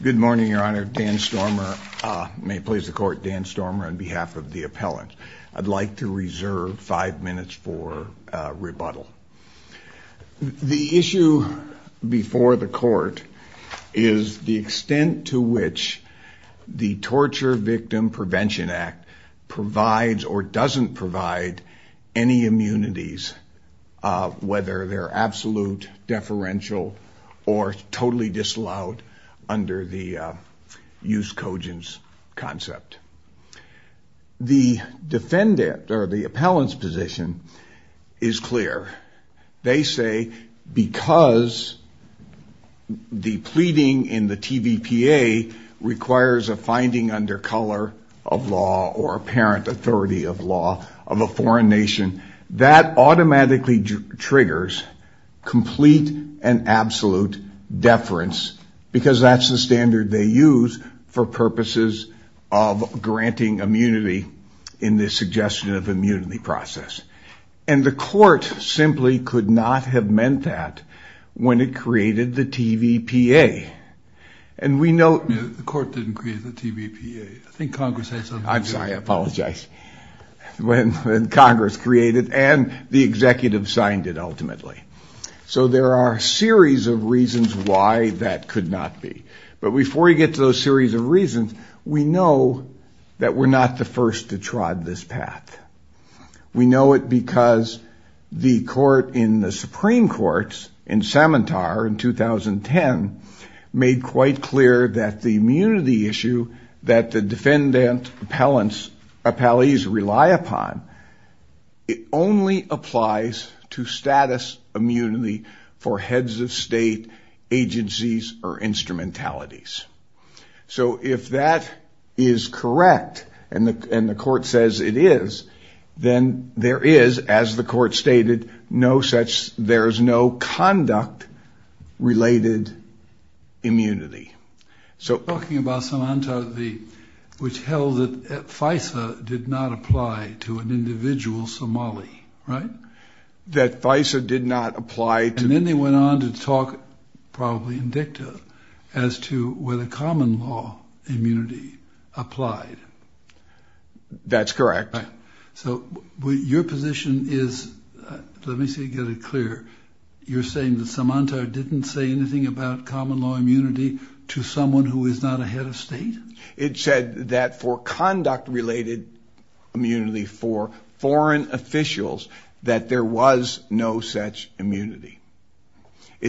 Good morning, Your Honor. Dan Stormer. May it please the court, Dan Stormer on behalf of the appellant. I'd like to reserve five minutes for rebuttal. The issue before the court is the extent to which the Torture Victim Prevention Act provides or doesn't provide any immunities, whether they're absolute, deferential, or totally disallowed under the Use Cogents concept. The defendant or the appellant's position is clear. They say because the pleading in the TVPA requires a finding under color of law or apparent authority of law of a foreign nation, that automatically triggers complete and absolute deference because that's the standard they use for purposes of granting immunity in this suggestion of immunity process. And the court simply could not have meant that when it created the TVPA. And we know the court didn't create the TVPA. I'm sorry, I apologize. When Congress created and the executive signed it ultimately. So there are a series of reasons why that could not be. But before you get to those series of reasons, we know that we're not the first to trod this path. We know it because the court in the Supreme Court in Samantar in 2010 made quite clear that the immunity issue that the defendant appellees rely upon, it only applies to status immunity for heads of state, agencies, or instrumentalities. So if that is correct, and the court says it is, then there is, as the court stated, no such, there's no conduct related immunity. So talking about Samantar, which held that FISA did not apply to an individual Somali, right? That FISA did not apply. And then they went on to talk, probably in dicta, as to whether common law immunity applied. That's correct. So your position is, let me get it clear, you're saying that Samantar didn't say anything about common law immunity to someone who is not a head of state? It said that for It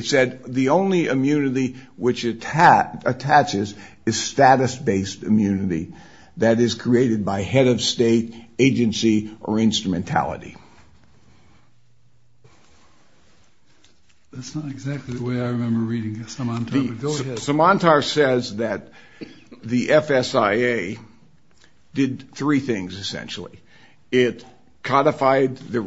said the only immunity which attaches is status-based immunity that is created by head of state, agency, or instrumentality. That's not exactly the way I remember reading Samantar, but go ahead. Samantar says that the FSIA did three things, essentially. It codified the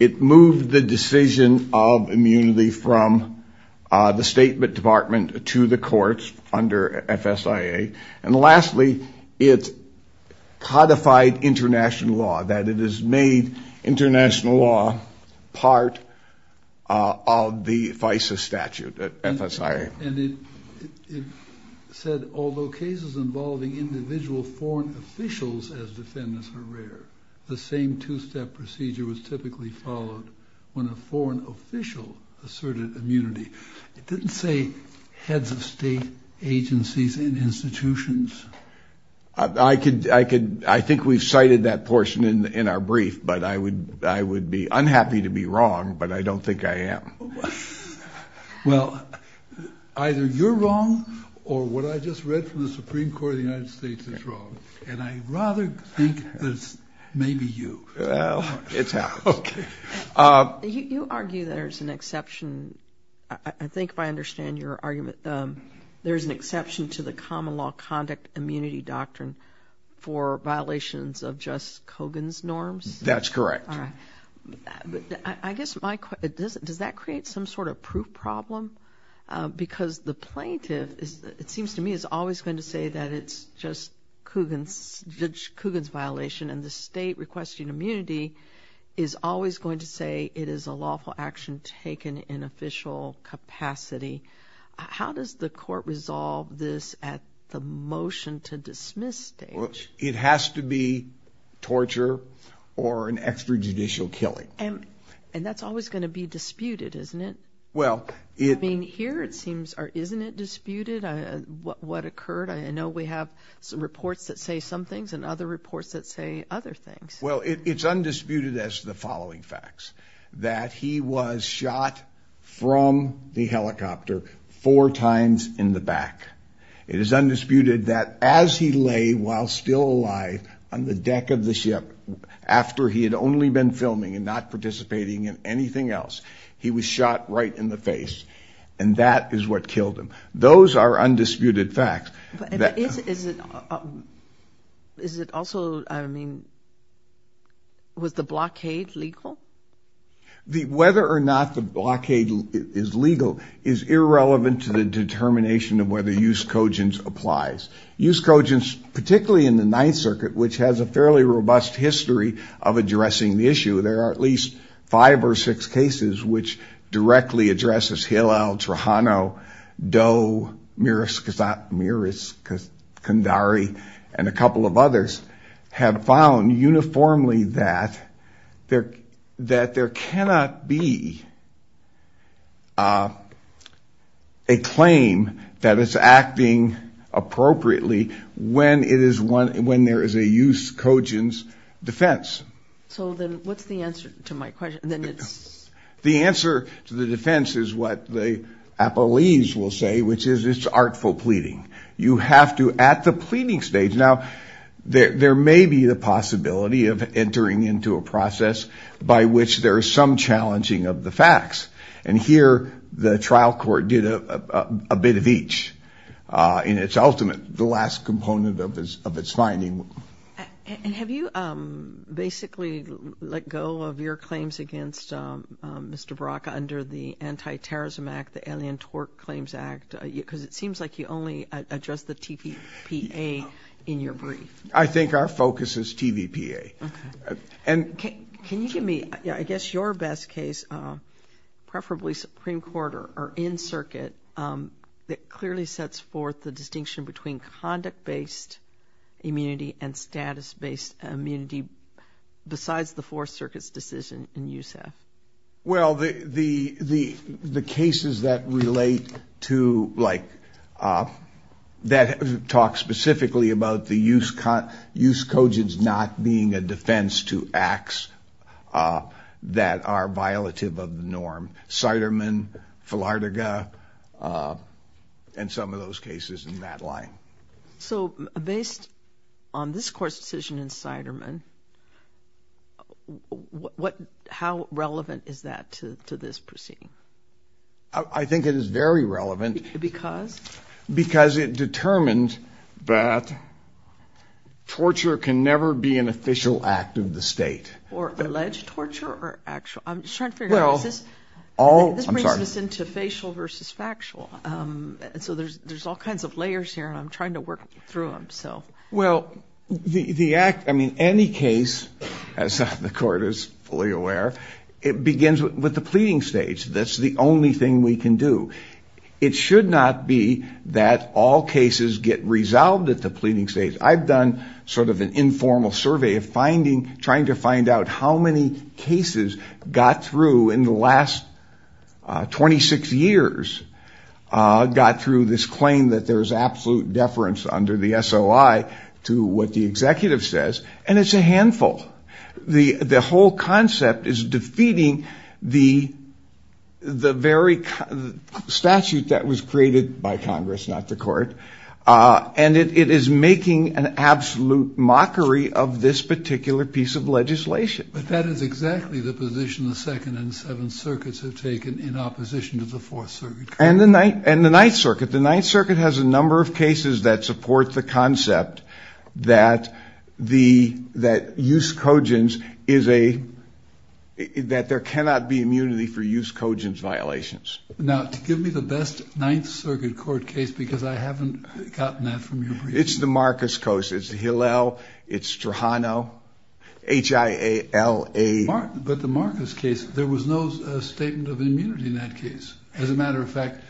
It moved the decision of immunity from the State Department to the courts under FSIA. And lastly, it codified international law, that it has made international law part of the FISA statute, FSIA. And it said, although cases involving individual foreign officials as typically followed, when a foreign official asserted immunity, it didn't say heads of state, agencies, and institutions. I could, I could, I think we've cited that portion in our brief, but I would, I would be unhappy to be wrong, but I don't think I am. Well, either you're wrong, or what I just read from the Supreme Court of the United States is wrong. And I rather think that it's maybe you. Well, it's happened. Okay. You argue there's an exception, I think if I understand your argument, there's an exception to the common law conduct immunity doctrine for violations of Judge Kogan's norms? That's correct. All right. But I guess my, it doesn't, does that create some sort of proof problem? Because the plaintiff is, it seems to me, is always going to say that it's just Kogan's, Judge Kogan's violation, and the state requesting immunity is always going to say it is a lawful action taken in official capacity. How does the court resolve this at the motion to dismiss stage? Well, it has to be torture or an extra judicial killing. And, and that's always going to be disputed, isn't it? Well, I mean, here it seems, isn't it disputed what occurred? I know we have some reports that say some things and other reports that say other things. Well, it's undisputed as the following facts, that he was shot from the helicopter four times in the back. It is undisputed that as he lay while still alive on the deck of the ship, after he had only been filming and not participating in anything else, he was shot right in the face. And that is what killed him. Those are undisputed facts. Is it also, I mean, was the blockade legal? Whether or not the blockade is legal is irrelevant to the determination of whether Eusekogin's applies. Eusekogin's, particularly in the Ninth Circuit, which has a fairly robust history of addressing the issue. There are at least five or six cases which directly addresses Hillel, Trujano, Doe, Miros Kandari and a couple of others have found uniformly that there, that there cannot be a claim that it's acting appropriately when it is one, when there is a Eusekogin's defense. So then what's the answer to my question? Then it's... The answer to the defense is what the appellees will say, which is it's artful pleading. You have to, at the pleading stage, now there may be the possibility of entering into a process by which there is some challenging of the facts. And here the trial court did a bit of each in its ultimate, the last component of its finding. And have you basically let go of your claims against Mr. Baraka under the Anti-Terrorism Act, the Alien Tort Claims Act, because it seems like you only address the TVPA in your brief. I think our focus is TVPA. And can you give me, I guess your best case, preferably Supreme Court or in circuit, that clearly sets forth the distinction between conduct-based immunity and status-based immunity besides the Fourth Circuit's decision in USAF? Well, the cases that relate to, like, that talk specifically about the Eusekogin's not being a defense to acts that are violative of the norm, Seidermann, Flartega, and some of those cases in that line. So based on this court's decision in Seidermann, how relevant is that to this proceeding? I think it is very relevant. Because? Because it determined that torture can never be an official act of the state. Or alleged torture or actual? I'm just trying to figure out, this brings us into facial versus factual. So there's all kinds of layers here and I'm trying to work through them. Well, the act, I mean, any case, as the court is fully aware, it begins with the pleading stage. That's the only thing we can do. It should not be that all cases get resolved at the pleading stage. I've done sort of an informal survey of finding, trying to find out how many cases got through in the last 26 years, got through this claim that there was absolute deference under the SOI to what the executive says. And it's a handful. The whole concept is defeating the very statute that was created by Congress, not the court. And it is making an absolute mockery of this particular piece of legislation. But that is exactly the position the Second and Seventh Circuits have taken in opposition to the Fourth Circuit. And the Ninth Circuit. The concept that use cogens is a, that there cannot be immunity for use cogens violations. Now to give me the best Ninth Circuit court case, because I haven't gotten that from you. It's the Marcus case. It's Hillel. It's Strahano. H-I-A-L-A. But the Marcus case, there was no statement of immunity in that case. As a matter of fact,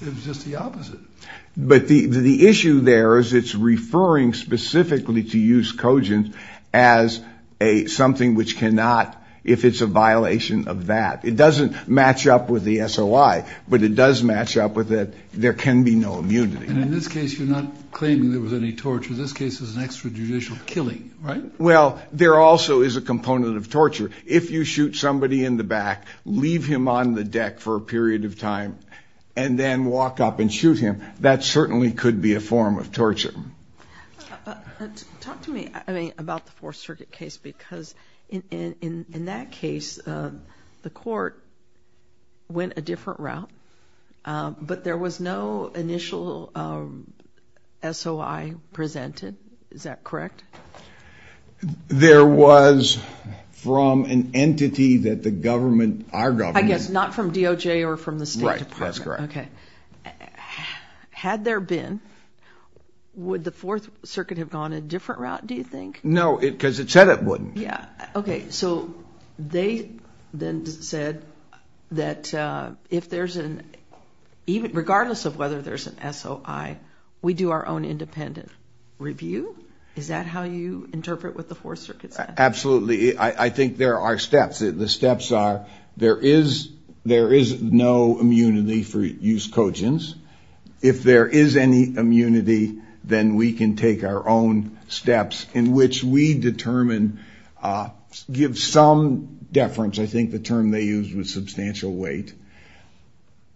it was just the opposite. But the issue there is it's referring specifically to use cogens as a something which cannot, if it's a violation of that. It doesn't match up with the SOI, but it does match up with that there can be no immunity. And in this case, you're not claiming there was any torture. This case is an extrajudicial killing, right? Well, there also is a component of torture. If you shoot somebody in the back, leave him on the deck for a period of time, and then walk up and shoot him, that certainly could be a form of torture. Talk to me, I mean, about the Fourth Circuit case, because in that case, the court went a different route. But there was no initial SOI presented. Is that correct? There was from an entity that the government, our government. Not from DOJ or from the State Department. That's correct. Okay. Had there been, would the Fourth Circuit have gone a different route, do you think? No, because it said it wouldn't. Yeah. Okay. So they then said that regardless of whether there's an SOI, we do our own independent review. Is that how you interpret what the Fourth Circuit said? Absolutely. I think there are steps. The steps are, there is no immunity for use cogents. If there is any immunity, then we can take our own steps in which we determine, give some deference, I think the term they used was substantial weight.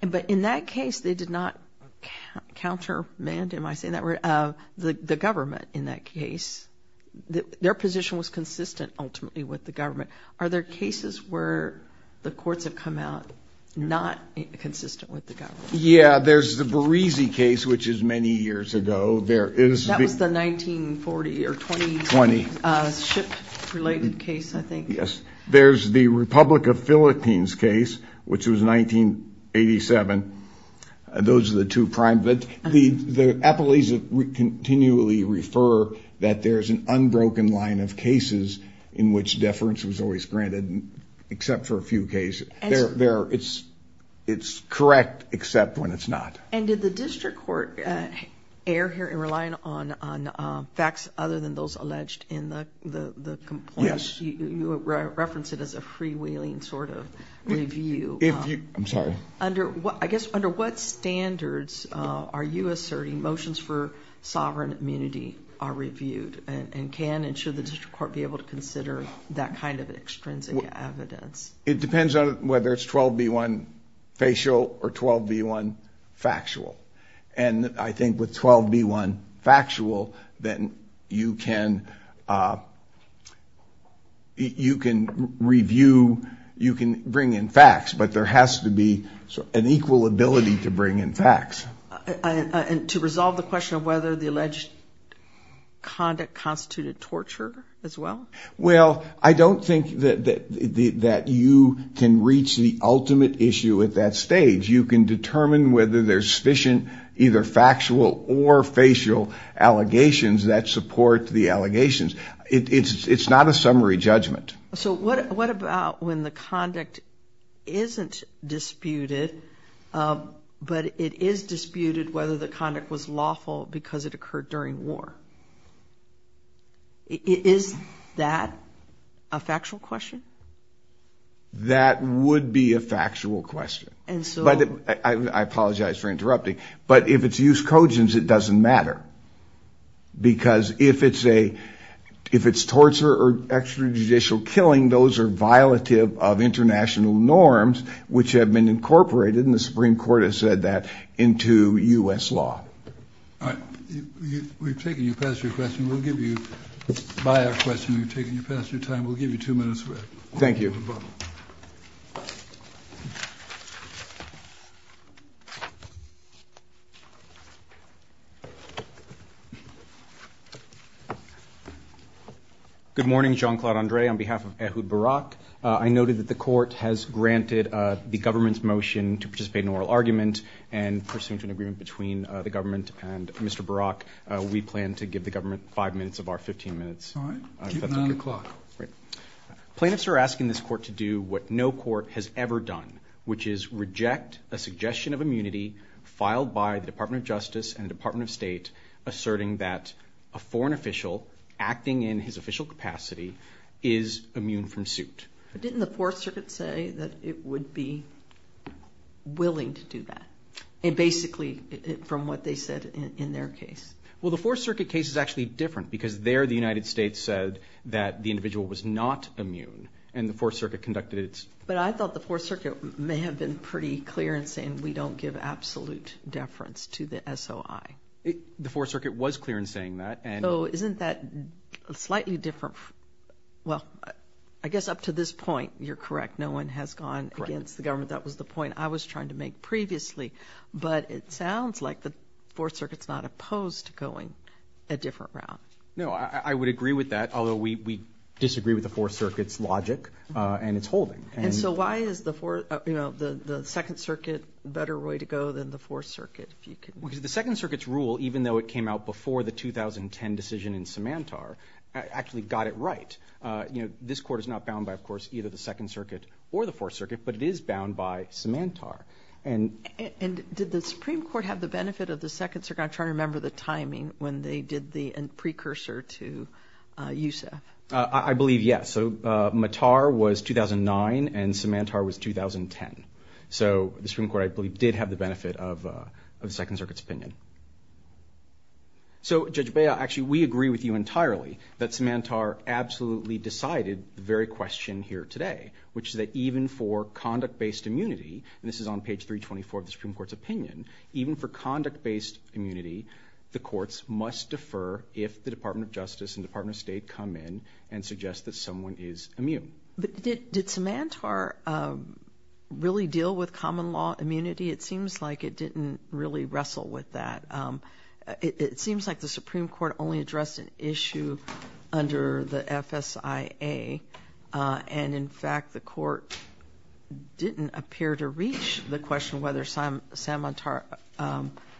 But in that case, they did not countermand, am I saying that right, the government in that case. Their position was consistent ultimately with the government. Are there cases where the courts have come out not consistent with the government? Yeah. There's the Barizi case, which is many years ago. There is- That was the 1940 or 20- 20. Ship related case, I think. Yes. There's the Republic of Philippines case, which was 1987. Those are the two prime. But the appellees continually refer that there's an unbroken line of cases in which deference was always granted, except for a few cases. It's correct, except when it's not. And did the district court err here in relying on facts other than those alleged in the complaint? Yes. You referenced it as a freewheeling sort of review. I'm sorry. I guess under what standards are you asserting motions for sovereign immunity are reviewed and can and should the district court be able to consider that kind of extrinsic evidence? It depends on whether it's 12b1 facial or 12b1 factual. And I think with 12b1 factual, then you can review, you can bring in facts, but there has to be an equal ability to bring in facts. And to resolve the question of whether the alleged conduct constituted torture as well? Well, I don't think that you can reach the ultimate issue at that stage. You can determine whether there's sufficient either factual or facial allegations that support the allegations. It's not a summary judgment. So what about when the conduct isn't disputed, but it is disputed whether the conduct was lawful because it occurred during war? Is that a factual question? That would be a factual question. But I apologize for interrupting, but if it's used cogent, it doesn't matter. Because if it's a, if it's torture or extrajudicial killing, those are violative of international norms, which have been incorporated in the Supreme Court has said that into US law. All right. We've taken you past your question. We'll give you by our question. We've taken you past your time. We'll give you two minutes. Thank you. Good morning, Jean-Claude Andre on behalf of Ehud Barak. I noted that the court has granted the government's motion to participate in oral argument and pursuant to an agreement between the government and Mr. Barak, we plan to give the government five minutes of our 15 minutes. Nine o'clock. Plaintiffs are asking this court to do what no court has ever done, which is reject a suggestion of immunity filed by the Department of Justice and the Department of State asserting that a foreign official acting in his official capacity is immune from suit. But didn't the Fourth Circuit say that it would be willing to do that? And basically from what they said in their case? Well, the Fourth Circuit case is actually different because there the United States said that the individual was not immune and the Fourth Circuit conducted it. But I thought the Fourth Circuit may have been pretty clear in saying we don't give absolute deference to the SOI. The Fourth Circuit was clear in saying that. So isn't that slightly different? Well, I guess up to this point, you're correct, no one has gone against the government. That was the point I was trying to make previously. But it sounds like the Fourth Circuit's not opposed to going a different route. No, I would agree with that, although we disagree with the Fourth Circuit's logic and it's holding. And so why is the Second Circuit better way to go than the Fourth Circuit? Because the Second Circuit's rule, even though it came out before the 2010 decision in Samantar, actually got it right. This court is not bound by, of course, either the Second Circuit or the Fourth Circuit, but it is bound by Samantar. And did the Supreme Court have the benefit of the Second Circuit? I'm trying to remember the timing when they did the precursor to Youssef. I believe, yes. So Mattar was 2009 and Samantar was 2010. So the Supreme Court, I believe, did have the benefit of the Second Circuit's opinion. So Judge Bea, actually, we agree with you entirely that Samantar absolutely decided the very question here today, which is that even for conduct-based immunity, and this is on page 324 of the Supreme Court's opinion, even for conduct-based immunity, the courts must defer if the Department of Justice and Department of State come in and suggest that someone is immune. But did Samantar really deal with common law immunity? It seems like it didn't really wrestle with that. It seems like the Supreme Court only addressed an issue under the FSIA. And in fact, the court didn't appear to reach the question whether Samantar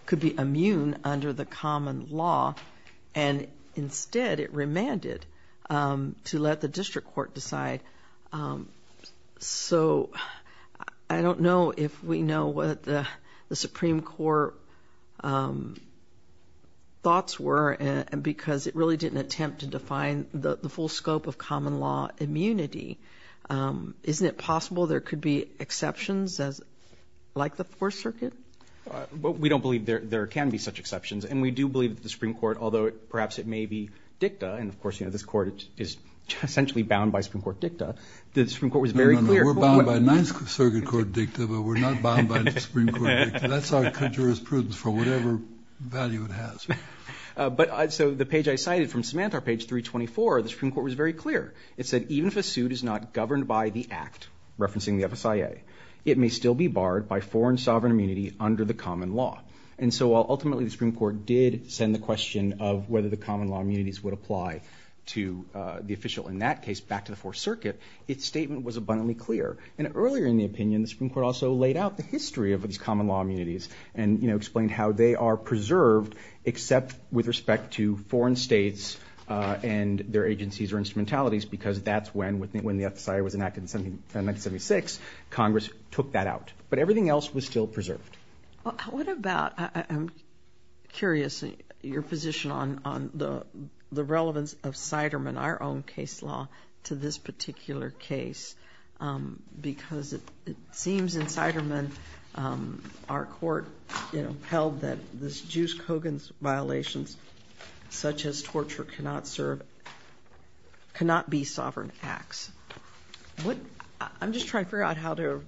could be immune under the common law. And instead, it remanded to let the district court decide. So I don't know if we know what the Supreme Court thoughts were, because it really didn't attempt to define the full scope of common law immunity. Isn't it possible there could be exceptions like the Fourth Circuit? But we don't believe there can be such exceptions. And we do believe that the Supreme Court, although perhaps it may be dicta, and of course, you know, this court is essentially bound by Supreme Court dicta, the Supreme Court was very clear. We're bound by Ninth Circuit Court dicta, but we're not bound by the Supreme Court dicta. That's our jurisprudence for whatever value it has. But so the page I cited from Samantar, page 324, the Supreme Court was very clear. It said, even if a suit is not governed by the act, referencing the FSIA, it may still be barred by foreign sovereign immunity under the common law. And so ultimately, the Supreme Court did send the question of whether the common law immunities would apply to the official. In that case, back to the Fourth Circuit, its statement was abundantly clear. And earlier in the opinion, the Supreme Court also laid out the history of these common law immunities and, you know, explained how they are preserved, except with respect to foreign states and their agencies or instrumentalities, because that's when the FSIA was enacted in 1976, Congress took that out. But everything else was still preserved. What about, I'm curious, your position on the relevance of Siderman, our own case law, to this particular case? Because it seems in Siderman, our court, you know, held that this Juice Kogan's violations, such as torture, cannot serve, cannot be sovereign acts. What, I'm just trying to figure out how to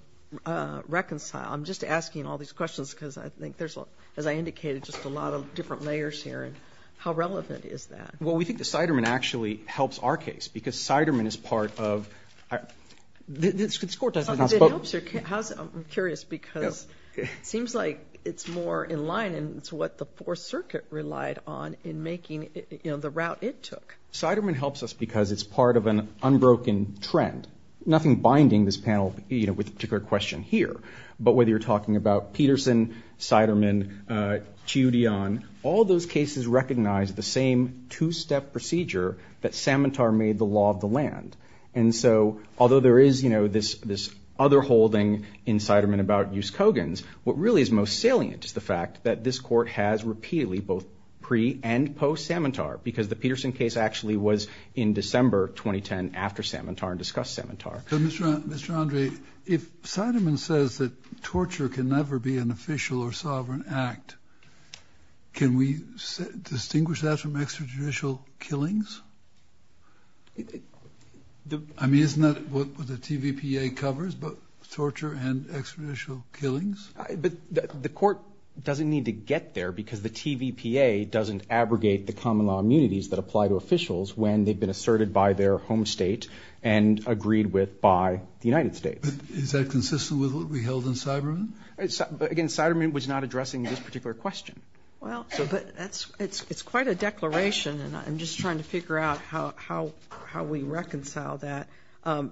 reconcile. I'm just asking all these questions because I think there's, as I indicated, just a lot of different layers here. And how relevant is that? Well, we think the Siderman actually helps our case because Siderman is part of, this court doesn't have a spoke. It helps your case, I'm curious, because it seems like it's more in line and it's what the Fourth Circuit relied on in making, you know, the route it took. Siderman helps us because it's part of an unbroken trend. Nothing binding this panel, you know, with a particular question here. But whether you're talking about Peterson, Siderman, Chiodian, all those cases recognize the same two-step procedure that Samatar made the law of the land. And so, although there is, you know, this other holding in Siderman about Juice Kogan's, what really is most salient is the fact that this court has repeatedly, both pre and post-Samatar, because the Peterson case actually was in December 2010 after Samatar and discussed Samatar. Mr. Andre, if Siderman says that torture can never be an official or sovereign act, can we distinguish that from extrajudicial killings? I mean, isn't that what the TVPA covers, both torture and extrajudicial killings? But the court doesn't need to get there because the TVPA doesn't abrogate the common law immunities that apply to officials when they've been asserted by their home state and agreed with by the United States. Is that consistent with what we held in Siderman? But again, Siderman was not addressing this particular question. Well, but it's quite a declaration and I'm just trying to figure out how we reconcile that.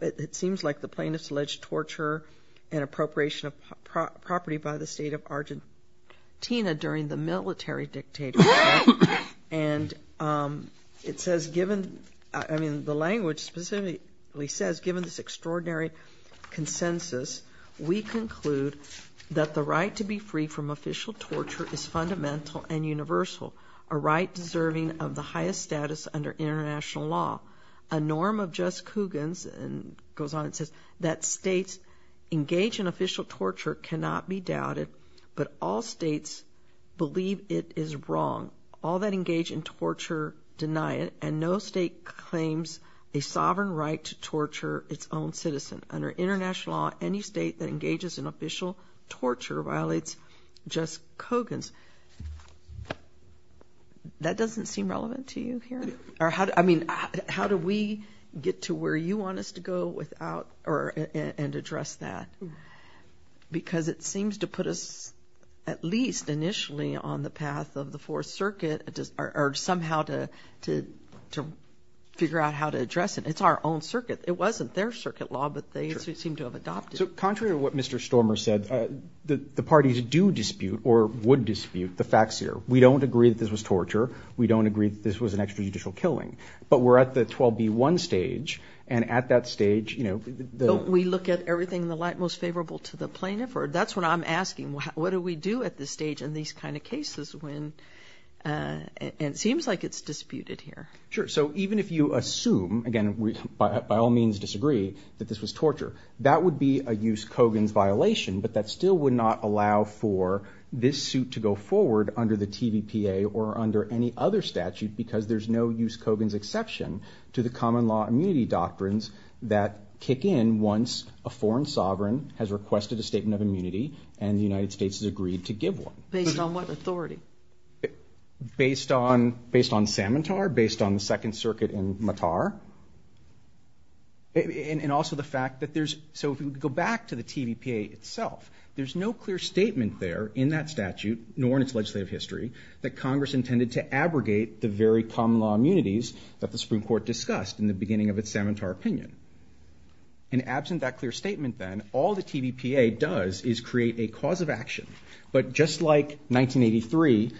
It seems like the plaintiff's alleged torture and appropriation of property by the state of Argentina during the military dictatorship and it says, given, I mean, the language specifically says, given this extraordinary consensus, we conclude that the right to be free from official torture is fundamental and universal, a right deserving of the highest status under international law. A norm of Jess Coogan's goes on and says that states engage in official torture cannot be doubted, but all states believe it is wrong. All that engage in torture deny it and no state claims a sovereign right to torture its own citizen. Under international law, any state that engages in official torture violates Jess Coogan's. That doesn't seem relevant to you here? Or how, I mean, how do we get to where you want us to go without or and address that? Because it seems to put us at least initially on the path of the Fourth Circuit or somehow to figure out how to address it. It's our own circuit. It wasn't their circuit law, but they seem to have adopted. So contrary to what Mr. Stormer said, the parties do dispute or would dispute the facts here. We don't agree that this was torture. We don't agree that this was an extrajudicial killing, but we're at the 12B1 stage. And at that stage, you know. We look at everything in the light most favorable to the plaintiff, or that's what I'm asking. What do we do at this stage in these kind of cases when it seems like it's disputed here? Sure. So even if you assume, again, we by all means disagree that this was torture, that would be a use Coogan's violation, but that still would not allow for this suit to go forward under the TVPA or under any other statute, because there's no use Coogan's exception to the common law immunity doctrines that kick in once a foreign sovereign has requested a statement of immunity and the United States has agreed to give one. Based on what authority? Based on based on Samatar, based on the Second Circuit in Matar. And also the fact that there's, so if you go back to the TVPA itself, there's no clear statement there in that statute, nor in its legislative history, that Congress intended to abrogate the very common law immunities that the Supreme Court discussed in the beginning of its Samatar opinion. And absent that clear statement then, all the TVPA does is create a cause of action. But just like 1983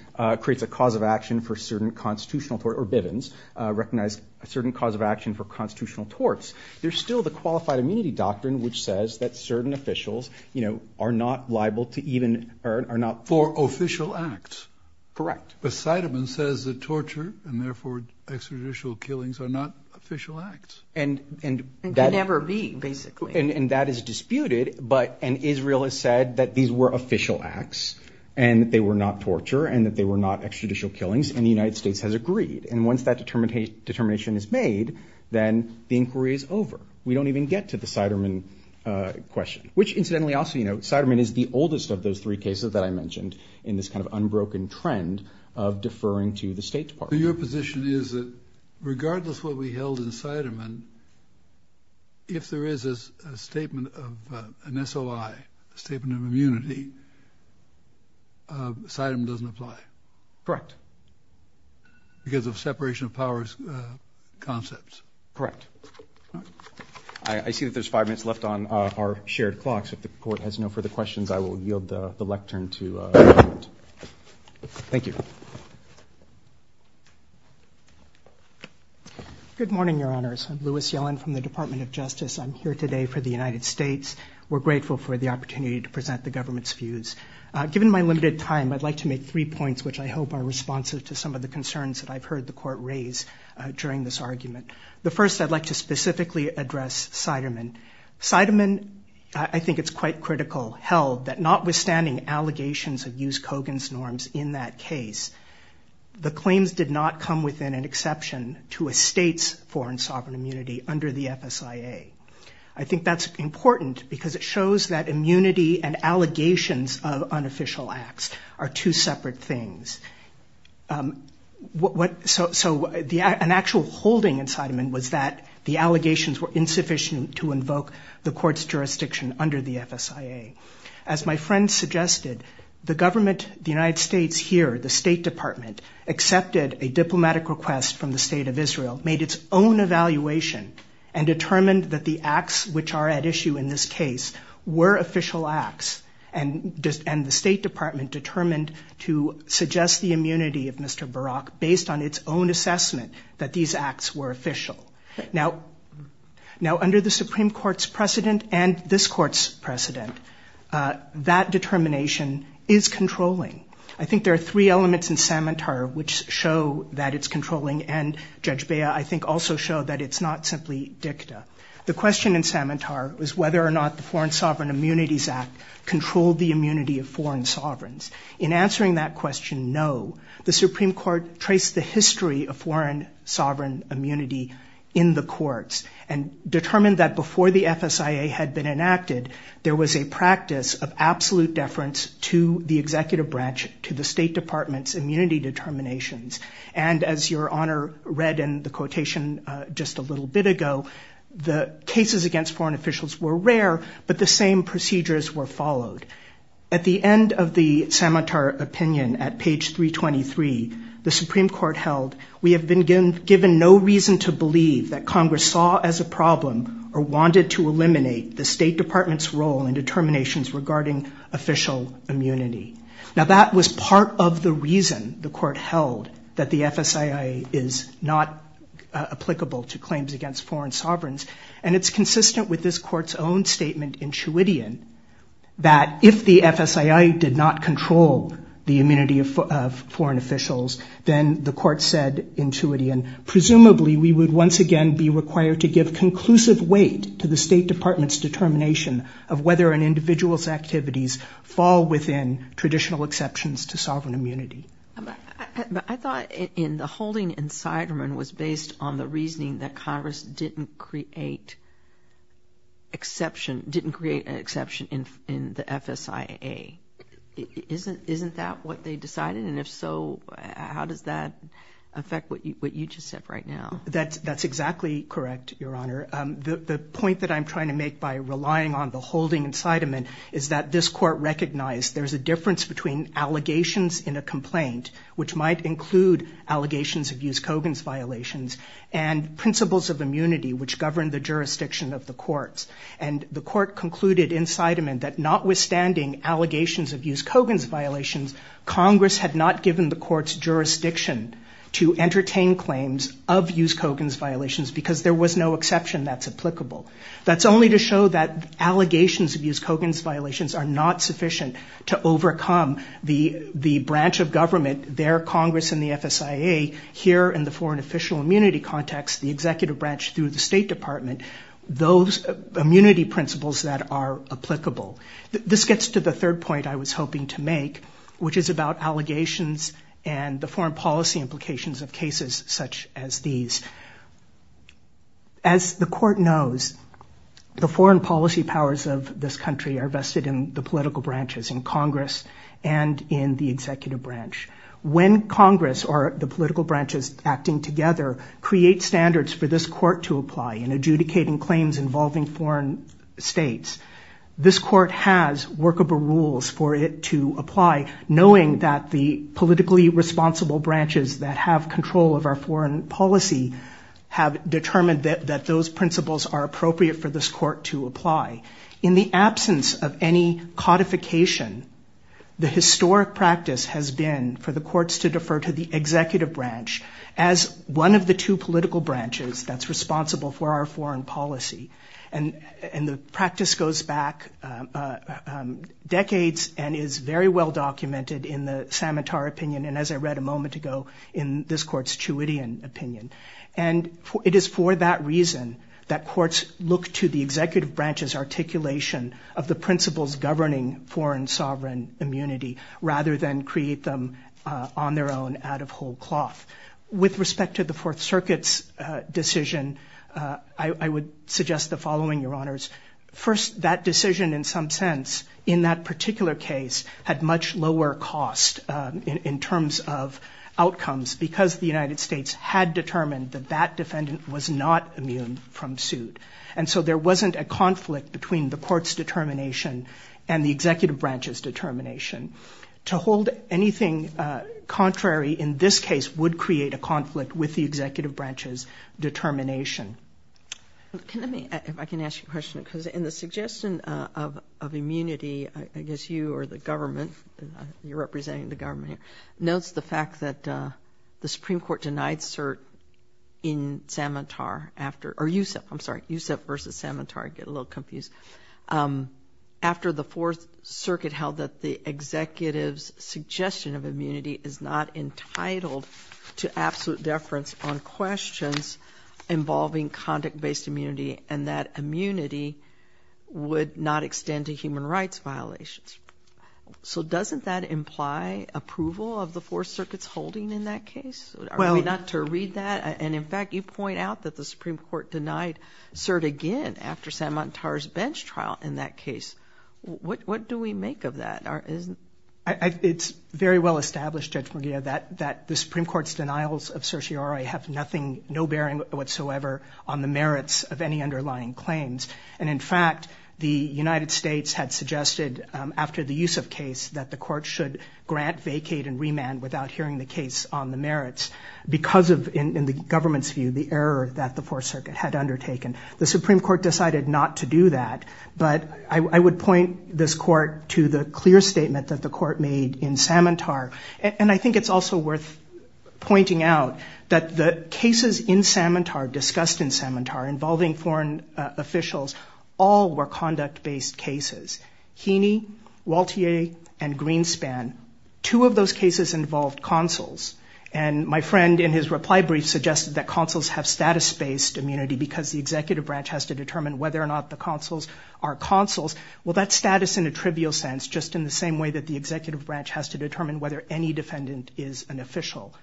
creates a cause of action for certain constitutional tort, or Bivens recognized a certain cause of action for constitutional torts, there's still the qualified immunity doctrine, which says that certain officials, you know, are not liable to even, are not for official acts. Correct. But Seidemann says that torture and therefore extrajudicial killings are not official acts. And that never be basically. And that is disputed, but and Israel has said that these were official acts and they were not torture and that they were not extrajudicial killings and the United States has agreed. And once that determination is made, then the inquiry is over. We don't even get to the Seidemann question, which incidentally also, you know, Seidemann is the oldest of those three cases that I mentioned in this kind of unbroken trend of deferring to the State Department. Your position is that regardless of what we held in Seidemann, if there is a statement of an SOI, a statement of immunity, Seidemann doesn't apply. Correct. Because of separation of powers concepts. Correct. I see that there's five minutes left on our shared clock. So if the court has no further questions, I will yield the lectern to. Thank you. Good morning, Your Honors. I'm Louis Yellen from the Department of Justice. I'm here today for the United States. We're grateful for the opportunity to present the government's views. Given my limited time, I'd like to make three points, which I hope are responsive to some of the concerns that I've heard the court raise during this argument. The first, I'd like to specifically address Seidemann. Seidemann, I think it's quite critical, held that notwithstanding allegations of use Kogan's norms in that case, the claims did not come within an exception to a State's foreign sovereign immunity under the FSIA. I think that's important because it shows that immunity and allegations of unofficial acts are two separate things. So an actual holding in Seidemann was that the allegations were insufficient to invoke the court's jurisdiction under the FSIA. As my friend suggested, the government, the United States here, the State Department accepted a diplomatic request from the State of Israel, made its own evaluation and determined that the acts which are at issue in this case were official acts. And the State Department determined to suggest the immunity of Mr. Barak based on its own assessment that these acts were official. Now, under the Supreme Court's precedent and this court's precedent, that determination is controlling. I think there are three elements in Samantar which show that it's controlling. And Judge Bea, I think, also showed that it's not simply dicta. The question in Samantar was whether or not the Foreign Sovereign Immunities Act controlled the immunity of foreign sovereigns. In answering that question, no. The Supreme Court traced the history of foreign sovereign immunity in the courts and determined that before the FSIA had been enacted, there was a practice of absolute deference to the executive branch, to the State Department's immunity determinations. And as Your Honor read in the quotation just a little bit ago, the cases against foreign officials were rare, but the same procedures were followed. At the end of the Samantar opinion at page 323, the Supreme Court held, we have been given no reason to believe that Congress saw as a problem or wanted to eliminate the State Department's role in determinations regarding official immunity. Now, that was part of the reason the court held that the FSIA is not applicable to claims against foreign sovereigns. And it's consistent with this court's own statement in Tewitian that if the FSIA did not control the immunity of foreign officials, then the court said in Tewitian, presumably we would once again be required to give conclusive weight to the State Department's determination of whether an individual's activities fall within traditional exceptions to sovereign immunity. But I thought in the holding incitement was based on the reasoning that Congress didn't create an exception in the FSIA. Isn't that what they decided? And if so, how does that affect what you just said right now? That's exactly correct, Your Honor. The point that I'm trying to make by relying on the holding incitement is that this court recognized there's a difference between allegations in a complaint, which might include allegations of Hughes-Cogan's violations, and principles of immunity, which govern the jurisdiction of the courts. And the court concluded incitement that notwithstanding allegations of Hughes-Cogan's violations, Congress had not given the court's jurisdiction to entertain claims of Hughes-Cogan's violations because there was no exception that's applicable. That's only to show that allegations of Hughes-Cogan's violations are not sufficient to overcome the branch of government, their Congress and the FSIA, here in the foreign official immunity context, the executive branch through the State Department, those immunity principles that are applicable. This gets to the third point I was hoping to make, which is about allegations and the foreign policy implications of cases such as these. As the court knows, the foreign policy powers of this country are vested in the political branches, in Congress and in the executive branch. When Congress or the political branches acting together create standards for this court to apply in adjudicating claims involving foreign states, this court has workable rules for it to apply, knowing that the politically responsible branches that have control of our foreign policy have determined that those principles are appropriate for this court to apply. In the absence of any codification, the historic practice has been for the courts to defer to the executive branch as one of the two political branches that's responsible for our foreign policy. And the practice goes back decades and is very well documented in the Samatar opinion and, as I read a moment ago, in this court's Chewedian opinion. And it is for that reason that courts look to the executive branch's articulation of the principles governing foreign sovereign immunity rather than create them on their own out of whole cloth. With respect to the Fourth Circuit's decision, I would suggest the following, Your Honors. First, that decision in some sense in that particular case had much lower cost in terms of outcomes because the United States had determined that that defendant was not immune from suit. And so there wasn't a conflict between the court's determination and the executive branch's determination. To hold anything contrary in this case would create a conflict with the executive branch's determination. Let me, if I can ask you a question, because in the suggestion of immunity, I guess you or the government, you're representing the government here, notes the fact that the Supreme Court denied cert in Samantar after, or Yousef, I'm sorry, Yousef versus Samantar, I get a little confused. After the Fourth Circuit held that the executive's suggestion of immunity is not entitled to absolute deference on questions involving conduct-based immunity and that immunity would not extend to human rights violations. So doesn't that imply approval of the Fourth Circuit's holding in that case? Are we not to read that? And in fact, you point out that the Supreme Court denied cert again after Samantar's bench trial in that case. What do we make of that? It's very well established, Judge Munguia, that the Supreme Court's denials of certiorari have nothing, no bearing whatsoever on the merits of any underlying claims. And in fact, the United States had suggested after the Yousef case that the court should grant, vacate, and remand without hearing the case on the merits because of, in the government's view, the error that the Fourth Circuit had undertaken. The Supreme Court decided not to do that, but I would point this court to the clear statement that the court made in Samantar. And I think it's also worth pointing out that the cases in Samantar, discussed in Samantar, involving foreign officials, all were conduct-based cases. Heaney, Waltier, and Greenspan, two of those cases involved consuls. And my friend, in his reply brief, suggested that consuls have status-based immunity because the executive branch has to determine whether or not the consuls are consuls. Well, that's status in a trivial sense, just in the same way that the executive branch has to determine whether any defendant is an official.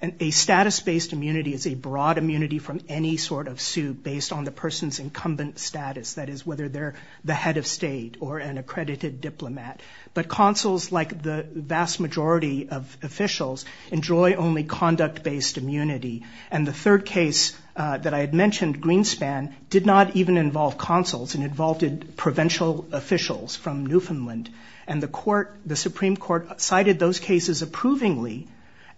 And a status-based immunity is a broad immunity from any sort of suit based on the person's incumbent status. That is, whether they're the head of state or an accredited diplomat. But consuls, like the vast majority of officials, enjoy only conduct-based immunity. And the third case that I had mentioned, Greenspan, did not even involve consuls. It involved provincial officials from Newfoundland. And the Supreme Court cited those cases approvingly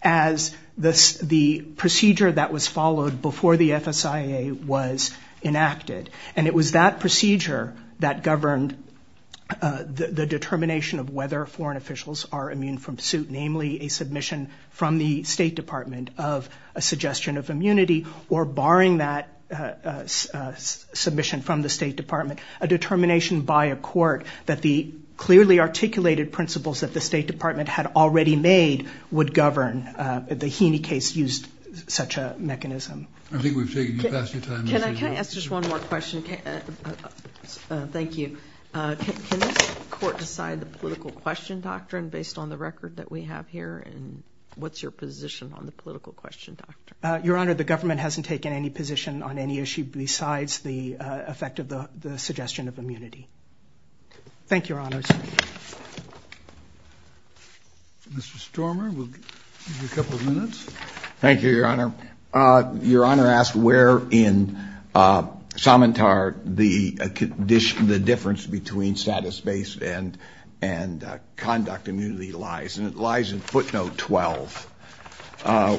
as the procedure that was followed before the FSIA was enacted. And it was that procedure that governed the determination of whether foreign officials are immune from suit, namely a submission from the State Department of a suggestion of immunity or, barring that submission from the State Department, a determination by a court that the clearly articulated principles that the State Department had already made would govern. The Heaney case used such a mechanism. I think we've taken the best of your time. Can I ask just one more question? Thank you. Can this court decide the political question doctrine based on the record that we have here? And what's your position on the political question doctrine? Your Honor, the government hasn't taken any position on any issue besides the effect of the suggestion of immunity. Thank you, Your Honors. Mr. Stormer, we'll give you a couple of minutes. Thank you, Your Honor. Your Honor asked where in Samantar the difference between status-based and conduct immunity lies. And it lies in footnote 12,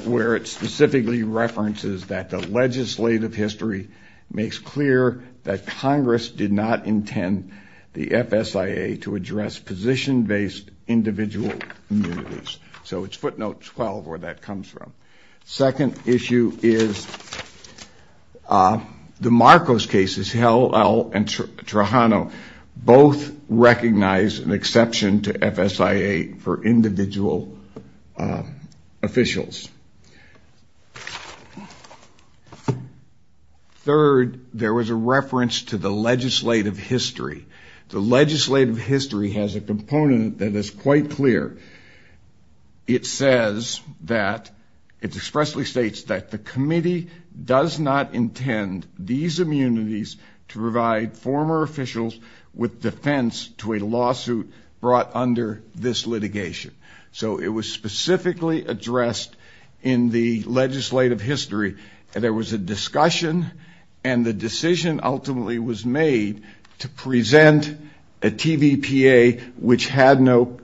where it specifically references that the legislative history makes clear that Congress did not intend the FSIA to address position-based individual immunities. So it's footnote 12 where that comes from. Second issue is the Marcos cases, Hillel and Trajano, both recognize an exception to FSIA for individual officials. Third, there was a reference to the legislative history. The legislative history has a component that is quite clear. It says that, it expressly states that the committee does not intend these immunities to provide former officials with defense to a lawsuit brought under this litigation. So it was specifically addressed in the legislative history. And there was a discussion and the decision ultimately was made to present a TVPA which had no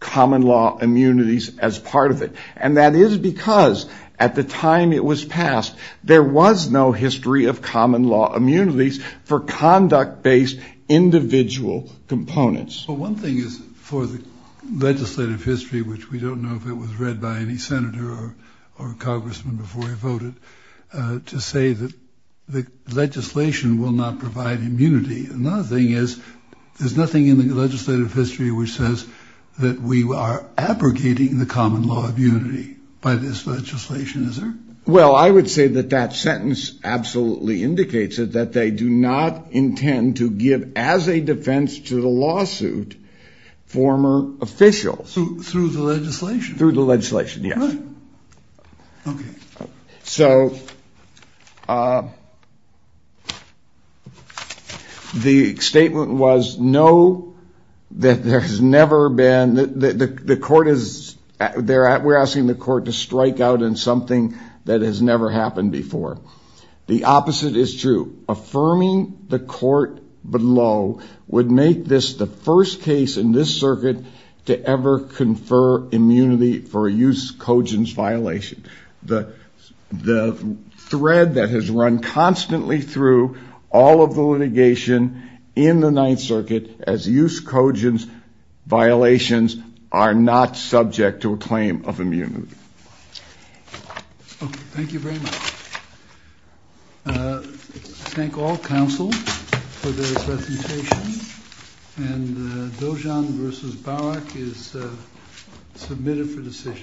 common law immunities as part of it. And that is because at the time it was passed, there was no history of common law immunities for conduct-based individual components. Well, one thing is for the legislative history, which we don't know if it was read by any senator or congressman before he voted to say that the legislation will not provide immunity. Another thing is there's nothing in the legislative history which says that we are abrogating the common law of unity by this legislation. Is there? Well, I would say that that sentence absolutely indicates that they do not intend to give as a defense to the lawsuit, former officials. Through the legislation. Through the legislation, yes. Right. Okay. So the statement was no, that there has never been, the court is there, we're asking the court to strike out in something that has never happened before. The opposite is true. Affirming the court below would make this the first case in this circuit to ever confer immunity for a use cogence violation. The thread that has run constantly through all of the litigation in the Ninth Circuit as use cogence violations are not subject to a claim of immunity. Okay. Thank you very much. Thank all counsel for this presentation. And Dojan versus Barak is submitted for decision.